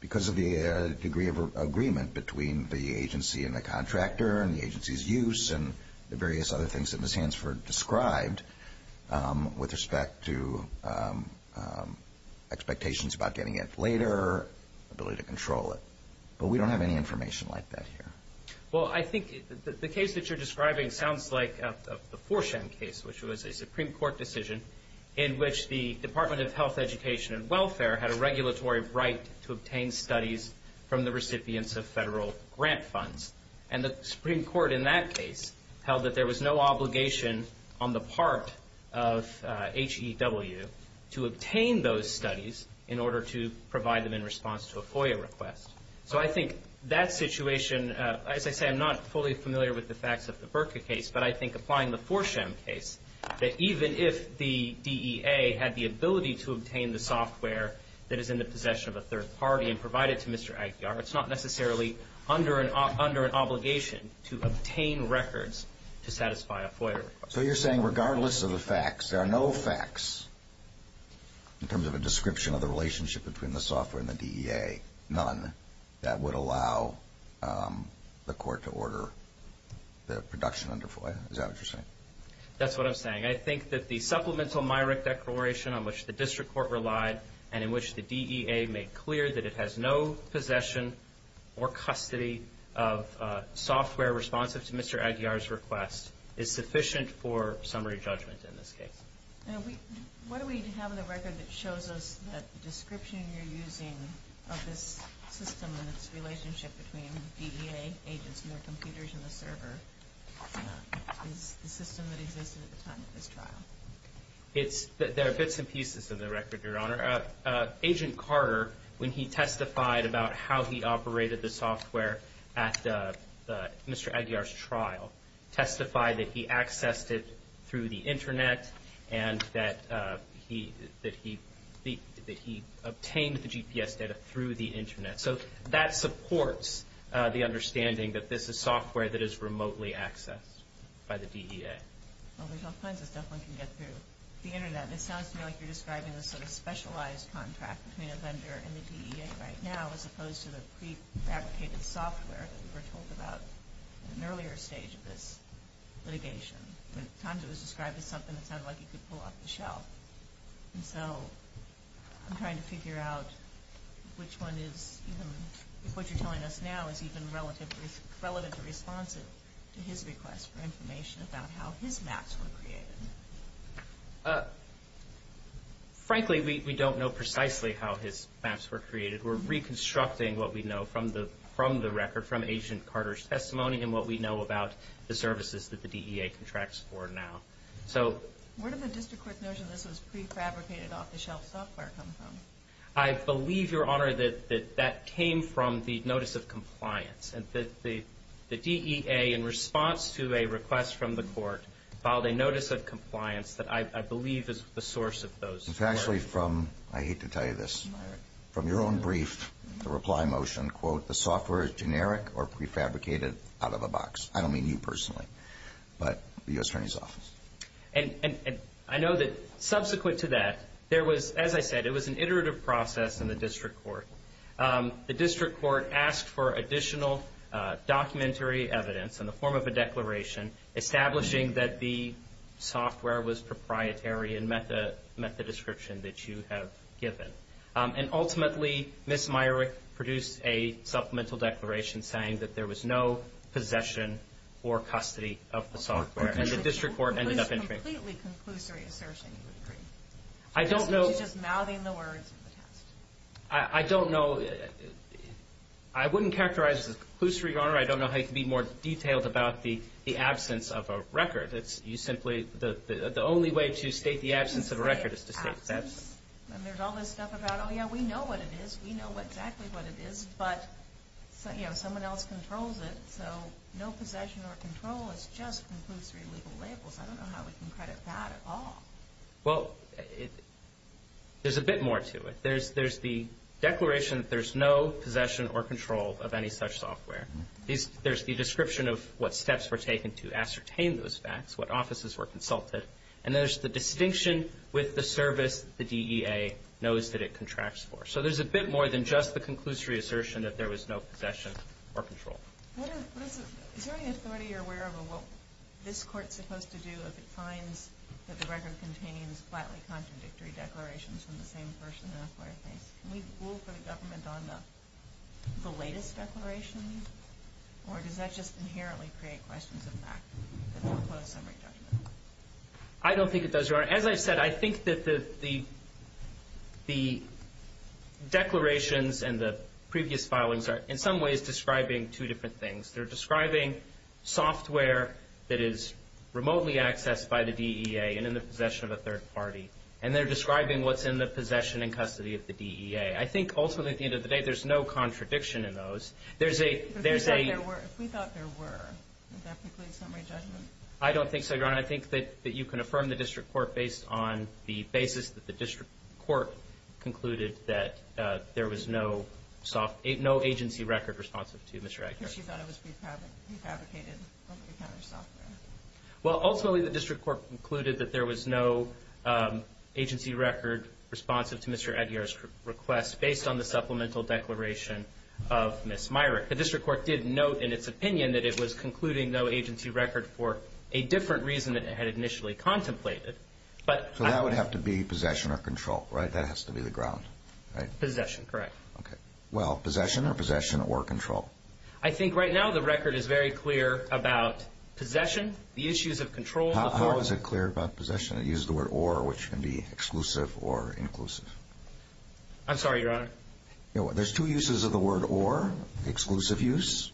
Because of the degree of agreement between the agency and the contractor and the agency's use and the various other things that Ms. Hansford described with respect to expectations about getting it later, ability to control it. But we don't have any information like that here. Well, I think the case that you're describing sounds like the 4CHEM case, which was a Supreme Court decision in which the Department of Health, Education, and Welfare had a regulatory right to obtain studies from the recipients of federal grant funds. And the Supreme Court in that case held that there was no obligation on the part of HEW to obtain those studies in order to provide them in response to a FOIA request. So I think that situation, as I say, I'm not fully familiar with the facts of the BRCA case, but I think applying the 4CHEM case, that even if the DEA had the ability to obtain the software that is in the possession of a third party and provide it to Mr. Aguiar, it's not necessarily under an obligation to obtain records to satisfy a FOIA request. So you're saying regardless of the facts, there are no facts in terms of a description of the relationship between the software and the DEA, none, that would allow the court to order the production under FOIA? Is that what you're saying? That's what I'm saying. I think that the supplemental Myrick declaration on which the district court relied and in which the DEA made clear that it has no possession or custody of software responsive to Mr. Aguiar's request is sufficient for summary judgment in this case. What do we have in the record that shows us that the description you're using of this system and its relationship between DEA agents and their computers and the server is the system that existed at the time of this trial? There are bits and pieces of the record, Your Honor. Agent Carter, when he testified about how he operated the software at Mr. Aguiar's trial, testified that he accessed it through the Internet and that he obtained the GPS data through the Internet. So that supports the understanding that this is software that is remotely accessed by the DEA. Well, there's all kinds of stuff one can get through the Internet. It sounds to me like you're describing a sort of specialized contract between a vendor and the DEA right now as opposed to the pre-fabricated software that we were told about at an earlier stage of this litigation. At times it was described as something that sounded like you could pull off the shelf. And so I'm trying to figure out which one is, if what you're telling us now is even relevant to response to his request for information about how his maps were created. Frankly, we don't know precisely how his maps were created. We're reconstructing what we know from the record, from Agent Carter's testimony, and what we know about the services that the DEA contracts for now. Where did the district court notion that this was pre-fabricated, off-the-shelf software come from? I believe, Your Honor, that that came from the notice of compliance. The DEA, in response to a request from the court, filed a notice of compliance that I believe is the source of those. It's actually from, I hate to tell you this, from your own brief, the reply motion, quote, the software is generic or pre-fabricated out of the box. I don't mean you personally, but the U.S. Attorney's Office. And I know that subsequent to that, there was, as I said, it was an iterative process in the district court. The district court asked for additional documentary evidence in the form of a declaration establishing that the software was proprietary and met the description that you have given. And ultimately, Ms. Myrick produced a supplemental declaration saying that there was no possession or custody of the software. And the district court ended up intervening. It was a completely conclusory assertion, you would agree. I don't know. You're just mouthing the words of the test. I don't know. I wouldn't characterize this as conclusory, Your Honor. I don't know how you can be more detailed about the absence of a record. You simply, the only way to state the absence of a record is to state that. And there's all this stuff about, oh, yeah, we know what it is. We know exactly what it is. But, you know, someone else controls it. So no possession or control is just conclusory legal labels. I don't know how we can credit that at all. Well, there's a bit more to it. There's the declaration that there's no possession or control of any such software. There's the description of what steps were taken to ascertain those facts, what offices were consulted. And there's the distinction with the service the DEA knows that it contracts for. So there's a bit more than just the conclusory assertion that there was no possession or control. Is there any authority you're aware of of what this Court's supposed to do if it finds that the record contains flatly contradictory declarations from the same person? Can we rule for the government on the latest declaration? Or does that just inherently create questions of fact? I don't think it does, Your Honor. As I said, I think that the declarations and the previous filings are in some ways describing two different things. They're describing software that is remotely accessed by the DEA and in the possession of a third party. And they're describing what's in the possession and custody of the DEA. I think, ultimately, at the end of the day, there's no contradiction in those. But if we thought there were, would that preclude summary judgment? I don't think so, Your Honor. I think that you can affirm the district court based on the basis that the district court concluded that there was no agency record responsive to Mr. Edgar's request. Because she thought it was prefabricated software. Well, ultimately, the district court concluded that there was no agency record responsive to Mr. Edgar's request based on the supplemental declaration of Ms. Myrick. The district court did note in its opinion that it was concluding no agency record for a different reason than it had initially contemplated. So that would have to be possession or control, right? That has to be the ground, right? Possession, correct. Okay. Well, possession or possession or control? I think right now the record is very clear about possession, the issues of control. How is it clear about possession? It uses the word or, which can be exclusive or inclusive. I'm sorry, Your Honor. There's two uses of the word or, the exclusive use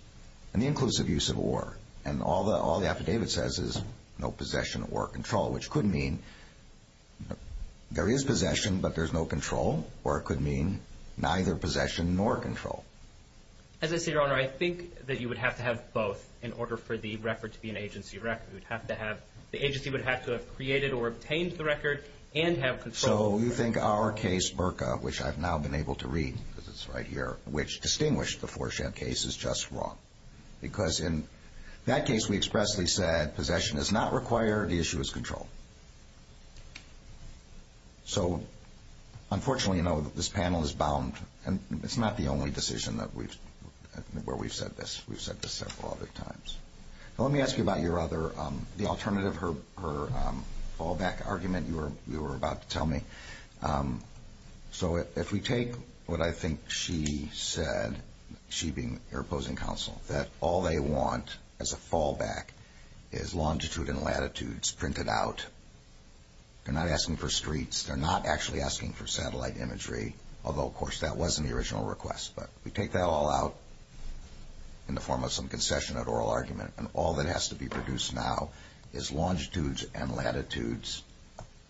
and the inclusive use of or. And all the affidavit says is no possession or control, which could mean there is possession but there's no control, or it could mean neither possession nor control. As I see it, Your Honor, I think that you would have to have both in order for the record to be an agency record. The agency would have to have created or obtained the record and have control. So you think our case, BRCA, which I've now been able to read because it's right here, which distinguished the Fourchamp case is just wrong. Because in that case we expressly said possession is not required, the issue is control. So unfortunately, you know, this panel is bound, and it's not the only decision where we've said this. We've said this several other times. Let me ask you about your other, the alternative, her fallback argument you were about to tell me. So if we take what I think she said, she being your opposing counsel, that all they want as a fallback is longitude and latitudes printed out. They're not asking for streets. They're not actually asking for satellite imagery, although, of course, that wasn't the original request. But we take that all out in the form of some concession at oral argument, and all that has to be produced now is longitudes and latitudes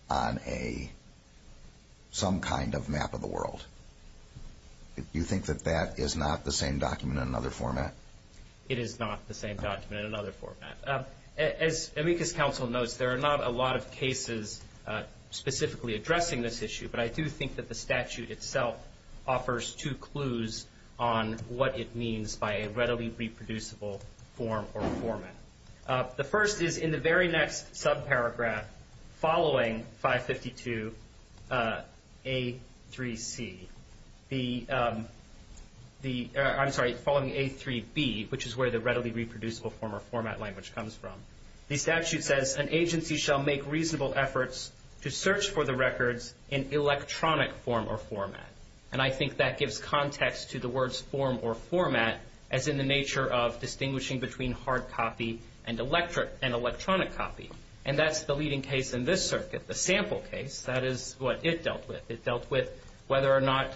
on some kind of map of the world. Do you think that that is not the same document in another format? It is not the same document in another format. As amicus counsel notes, there are not a lot of cases specifically addressing this issue, but I do think that the statute itself offers two clues on what it means by a readily reproducible form or format. The first is in the very next subparagraph following 552A3C, the, I'm sorry, following A3B, which is where the readily reproducible form or format language comes from. The statute says, an agency shall make reasonable efforts to search for the records in electronic form or format. And I think that gives context to the words form or format as in the nature of distinguishing between hard copy and electronic copy. And that's the leading case in this circuit, the sample case. That is what it dealt with. It dealt with whether or not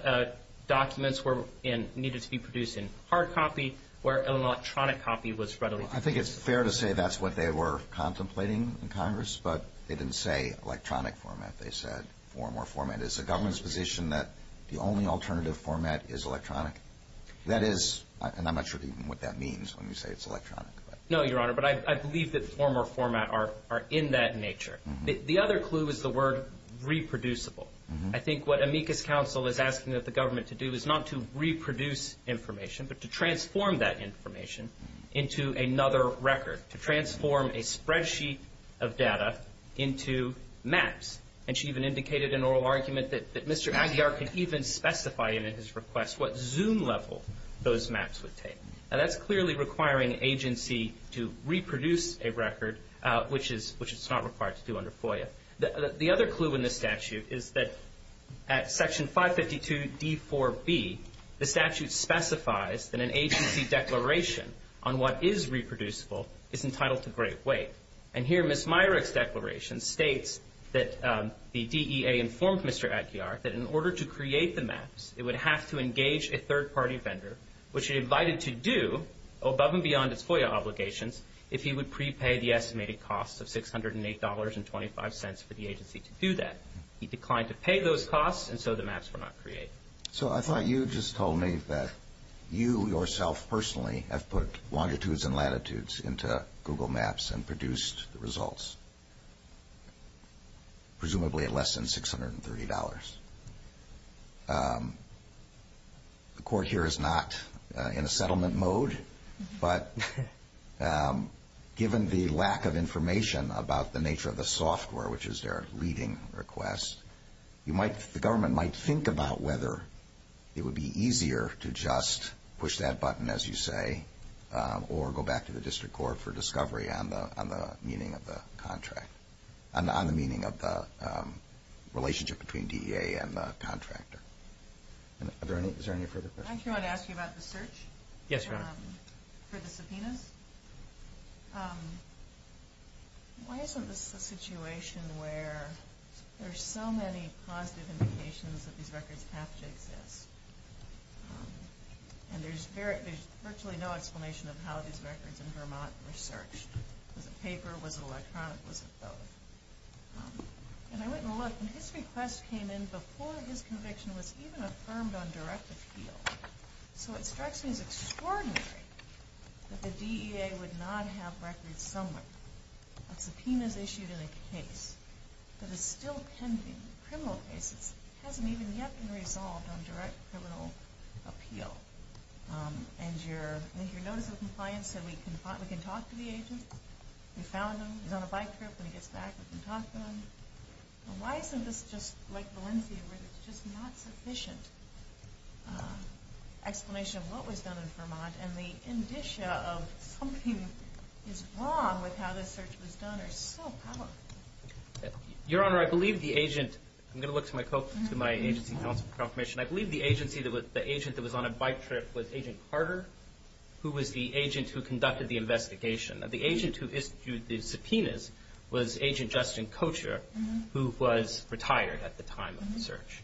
documents needed to be produced in hard copy or electronic copy was readily reproducible. I think it's fair to say that's what they were contemplating in Congress, but they didn't say electronic format. They said form or format. Is the government's position that the only alternative format is electronic? That is, and I'm not sure even what that means when you say it's electronic. No, Your Honor, but I believe that form or format are in that nature. The other clue is the word reproducible. I think what amicus counsel is asking that the government to do is not to reproduce information, but to transform that information into another record, to transform a spreadsheet of data into maps. And she even indicated an oral argument that Mr. Aguiar could even specify in his request what zoom level those maps would take. And that's clearly requiring agency to reproduce a record, which is not required to do under FOIA. The other clue in this statute is that at Section 552d4b, the statute specifies that an agency declaration on what is reproducible is entitled to great weight. And here Ms. Myrick's declaration states that the DEA informed Mr. Aguiar that in order to create the maps, it would have to engage a third-party vendor, which it invited to do, above and beyond its FOIA obligations, if he would prepay the estimated cost of $608.25 for the agency to do that. He declined to pay those costs, and so the maps were not created. So I thought you just told me that you yourself personally have put longitudes and latitudes into Google Maps and produced the results, presumably at less than $630. The Court here is not in a settlement mode, but given the lack of information about the nature of the software, which is their leading request, the government might think about whether it would be easier to just push that button, as you say, or go back to the District Court for discovery on the meaning of the contract, on the meaning of the relationship between DEA and the contractor. Is there any further questions? I actually want to ask you about the search for the subpoenas. Why isn't this a situation where there are so many positive indications that these records have to exist, and there's virtually no explanation of how these records in Vermont were searched? Was it paper? Was it electronic? Was it both? And I went and looked, and his request came in before his conviction was even affirmed on direct appeal. So it strikes me as extraordinary that the DEA would not have records somewhere. A subpoena is issued in a case that is still pending. Criminal cases haven't even yet been resolved on direct criminal appeal. And your notice of compliance said we can talk to the agent. We found him. He's on a bike trip. When he gets back, we can talk to him. Why isn't this just like Valencia, where there's just not sufficient explanation of what was done in Vermont, and the indicia of something is wrong with how this search was done are so powerful? Your Honor, I believe the agent – I'm going to look to my agency confirmation. I believe the agent that was on a bike trip was Agent Carter, who was the agent who conducted the investigation. The agent who issued the subpoenas was Agent Justin Kocher, who was retired at the time of the search.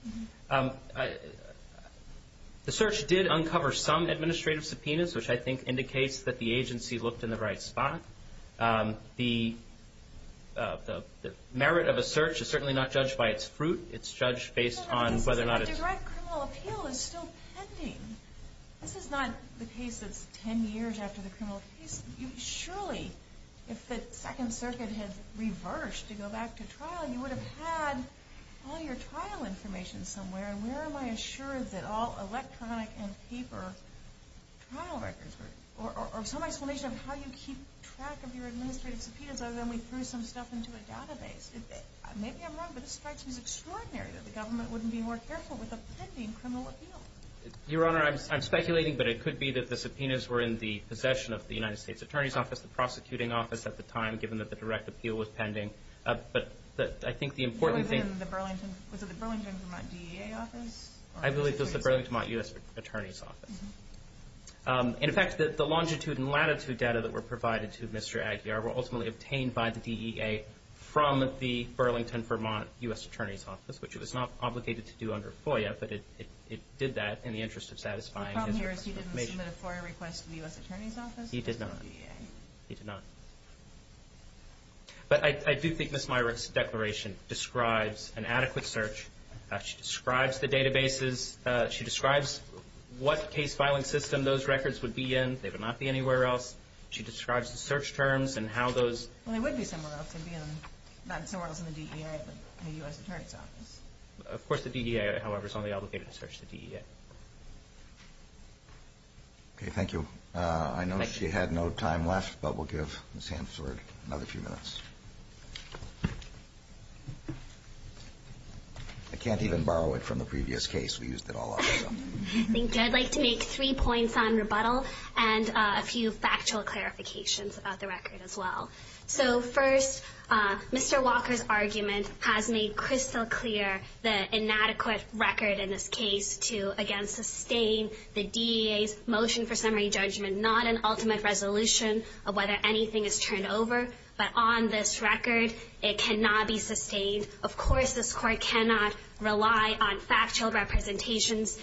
The search did uncover some administrative subpoenas, which I think indicates that the agency looked in the right spot. The merit of a search is certainly not judged by its fruit. It's judged based on whether or not it's – Your Honor, this is a direct criminal appeal. It's still pending. This is not the case that's 10 years after the criminal case. Surely, if the Second Circuit had reversed to go back to trial, you would have had all your trial information somewhere. Where am I assured that all electronic and paper trial records were – or some explanation of how you keep track of your administrative subpoenas, other than we threw some stuff into a database? Maybe I'm wrong, but this strikes me as extraordinary that the government wouldn't be more careful with a pending criminal appeal. Your Honor, I'm speculating, but it could be that the subpoenas were in the possession of the United States Attorney's Office, the prosecuting office at the time, given that the direct appeal was pending. But I think the important thing – Was it in the Burlington – was it the Burlington-Vermont DEA office? I believe it was the Burlington-Vermont U.S. Attorney's Office. In effect, the longitude and latitude data that were provided to Mr. Aguiar were ultimately obtained by the DEA from the Burlington-Vermont U.S. Attorney's Office, which it was not obligated to do under FOIA, but it did that in the interest of satisfying his – The problem here is he didn't submit a FOIA request to the U.S. Attorney's Office? He did not. He did not. But I do think Ms. Myrick's declaration describes an adequate search. She describes the databases. She describes what case filing system those records would be in. They would not be anywhere else. She describes the search terms and how those – Well, they would be somewhere else. They'd be in – not somewhere else in the DEA, but in the U.S. Attorney's Office. Of course, the DEA, however, is only obligated to search the DEA. Okay. Thank you. I know she had no time left, but we'll give Ms. Hanford another few minutes. I can't even borrow it from the previous case. We used it all up. Thank you. I'd like to make three points on rebuttal and a few factual clarifications about the record as well. So, first, Mr. Walker's argument has made crystal clear the inadequate record in this case to, again, sustain the DEA's motion for summary judgment, not an ultimate resolution of whether anything is turned over. But on this record, it cannot be sustained. Of course, this Court cannot rely on factual representations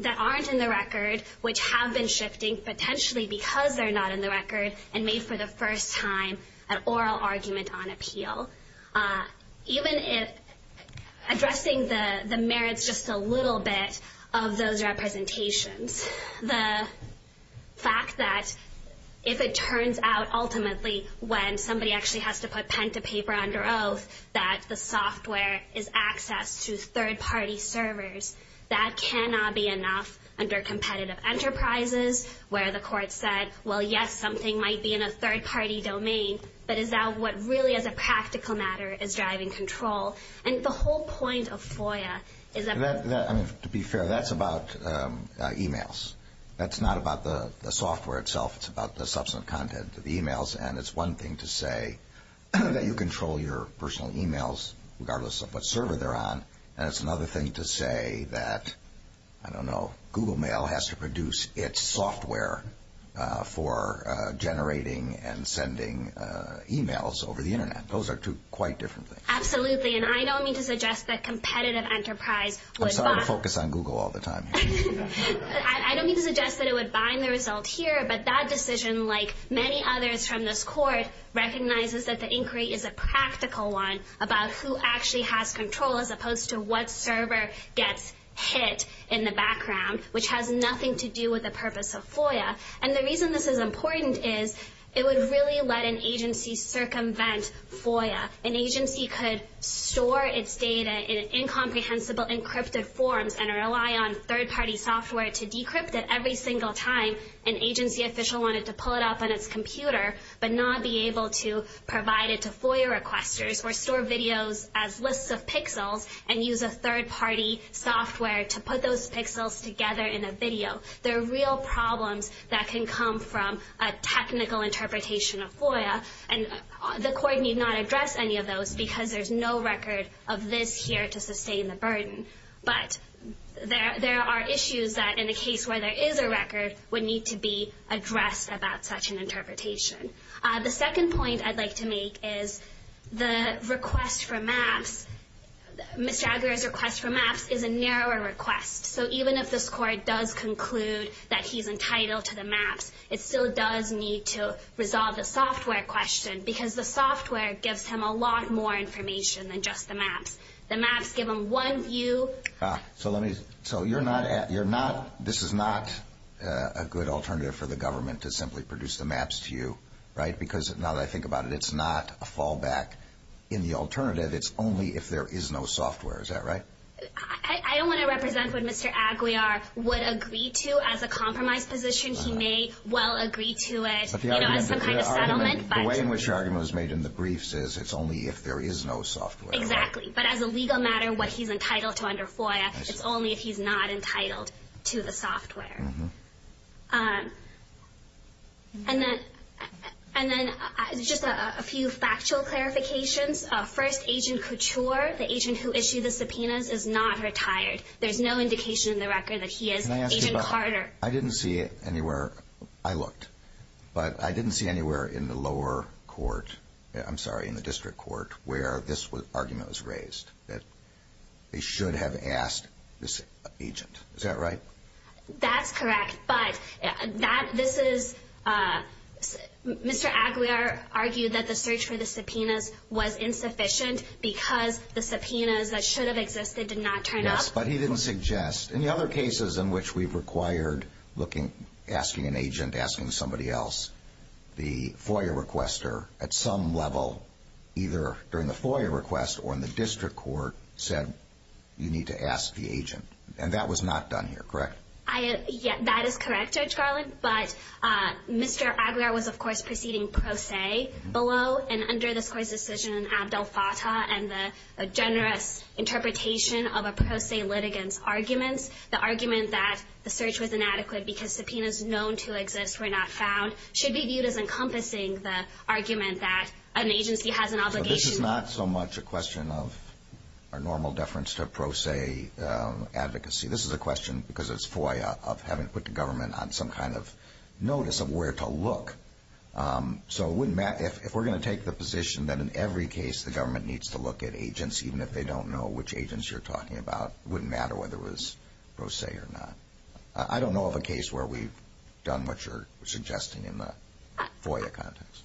that aren't in the record, which have been shifting potentially because they're not in the record and made for the first time an oral argument on appeal. Even if addressing the merits just a little bit of those representations, the fact that if it turns out ultimately when somebody actually has to put pen to paper under oath that the software is access to third-party servers, that cannot be enough under competitive enterprises, where the Court said, well, yes, something might be in a third-party domain, but is that what really as a practical matter is driving control? And the whole point of FOIA is that- To be fair, that's about e-mails. That's not about the software itself. It's about the substantive content of the e-mails. And it's one thing to say that you control your personal e-mails regardless of what server they're on. And it's another thing to say that, I don't know, Google Mail has to produce its software for generating and sending e-mails over the Internet. Those are two quite different things. Absolutely. And I don't mean to suggest that competitive enterprise would- I'm sorry to focus on Google all the time. I don't mean to suggest that it would bind the result here. But that decision, like many others from this Court, recognizes that the inquiry is a practical one about who actually has control as opposed to what server gets hit in the background, which has nothing to do with the purpose of FOIA. And the reason this is important is it would really let an agency circumvent FOIA. An agency could store its data in incomprehensible encrypted forms and rely on third-party software to decrypt it every single time an agency official wanted to pull it up on its computer but not be able to provide it to FOIA requesters or store videos as lists of pixels and use a third-party software to put those pixels together in a video. There are real problems that can come from a technical interpretation of FOIA. And the Court need not address any of those because there's no record of this here to sustain the burden. But there are issues that, in a case where there is a record, would need to be addressed about such an interpretation. The second point I'd like to make is the request for maps. Ms. Jagger's request for maps is a narrower request. So even if this Court does conclude that he's entitled to the maps, it still does need to resolve the software question The maps give him one view. So this is not a good alternative for the government to simply produce the maps to you, right? Because now that I think about it, it's not a fallback. In the alternative, it's only if there is no software. Is that right? I don't want to represent what Mr. Aguiar would agree to as a compromise position. He may well agree to it as some kind of settlement. The way in which your argument was made in the briefs is it's only if there is no software. Exactly. But as a legal matter, what he's entitled to under FOIA, it's only if he's not entitled to the software. And then just a few factual clarifications. First, Agent Couture, the agent who issued the subpoenas, is not retired. There's no indication in the record that he is Agent Carter. Can I ask you about it? I didn't see it anywhere. I looked. But I didn't see anywhere in the lower court, I'm sorry, in the district court, where this argument was raised, that they should have asked this agent. Is that right? That's correct. But this is Mr. Aguiar argued that the search for the subpoenas was insufficient because the subpoenas that should have existed did not turn up. Yes, but he didn't suggest. In the other cases in which we've required looking, asking an agent, asking somebody else, the FOIA requester, at some level, either during the FOIA request or in the district court, said you need to ask the agent. And that was not done here, correct? That is correct, Judge Garland. But Mr. Aguiar was, of course, proceeding pro se below and under this Court's decision in Abdel Fattah, and the generous interpretation of a pro se litigant's arguments. The argument that the search was inadequate because subpoenas known to exist were not found should be viewed as encompassing the argument that an agency has an obligation. But this is not so much a question of our normal deference to pro se advocacy. This is a question, because it's FOIA, of having put the government on some kind of notice of where to look. So if we're going to take the position that in every case the government needs to look at agents, even if they don't know which agents you're talking about, it wouldn't matter whether it was pro se or not. I don't know of a case where we've done what you're suggesting in the FOIA context.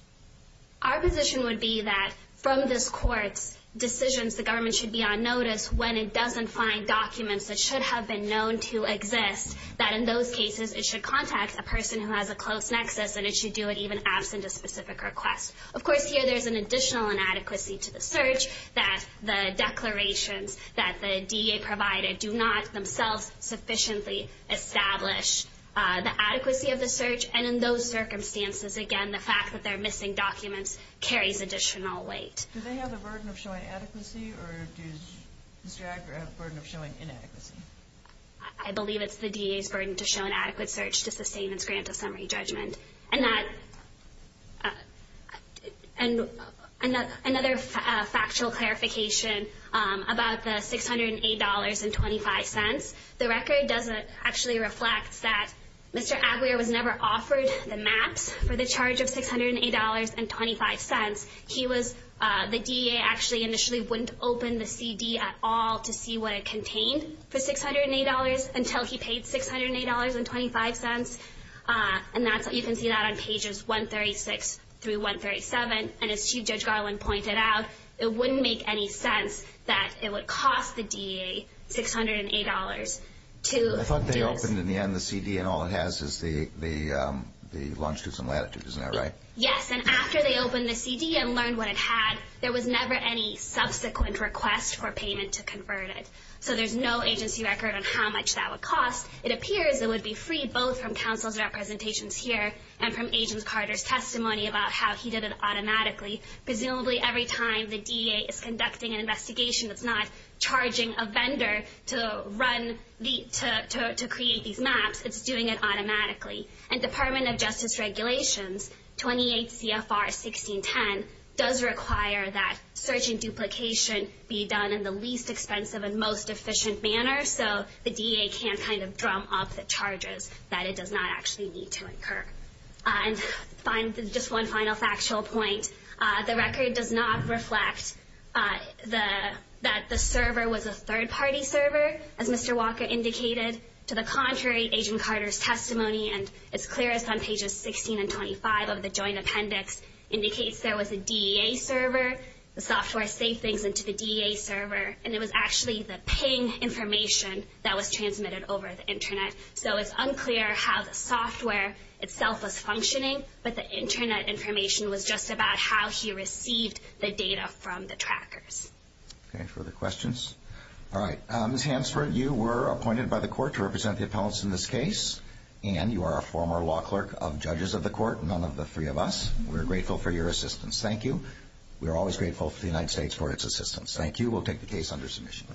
Our position would be that from this Court's decisions, the government should be on notice when it doesn't find documents that should have been known to exist, that in those cases it should contact a person who has a close nexus, and it should do it even absent a specific request. Of course, here there's an additional inadequacy to the search, that the declarations that the DEA provided do not themselves sufficiently establish the adequacy of the search, and in those circumstances, again, the fact that they're missing documents carries additional weight. Do they have the burden of showing adequacy, or does Mr. Agra have the burden of showing inadequacy? I believe it's the DEA's burden to show an adequate search to sustain its grant of summary judgment. And another factual clarification about the $608.25, the record actually reflects that Mr. Aguirre was never offered the maps for the charge of $608.25. The DEA actually initially wouldn't open the CD at all to see what it contained for $608 until he paid $608.25, and you can see that on pages 136 through 137, and as Chief Judge Garland pointed out, it wouldn't make any sense that it would cost the DEA $608 to do this. I thought they opened in the end the CD and all it has is the longitudes and latitudes, isn't that right? Yes, and after they opened the CD and learned what it had, there was never any subsequent request for payment to convert it. So there's no agency record on how much that would cost. It appears it would be free both from counsel's representations here and from Agent Carter's testimony about how he did it automatically. Presumably every time the DEA is conducting an investigation that's not charging a vendor to create these maps, it's doing it automatically. And Department of Justice regulations, 28 CFR 1610, does require that search and duplication be done in the least expensive and most efficient manner so the DEA can't kind of drum up the charges that it does not actually need to incur. And just one final factual point. The record does not reflect that the server was a third-party server, as Mr. Walker indicated. To the contrary, Agent Carter's testimony, and it's clearest on pages 16 and 25 of the joint appendix, indicates there was a DEA server. The software saved things into the DEA server, and it was actually the ping information that was transmitted over the Internet. So it's unclear how the software itself was functioning, but the Internet information was just about how he received the data from the trackers. Okay, further questions? All right, Ms. Hansford, you were appointed by the court to represent the appellants in this case, and you are a former law clerk of judges of the court, none of the three of us. We're grateful for your assistance. Thank you. We're always grateful for the United States for its assistance. Thank you. We'll take the case under submission.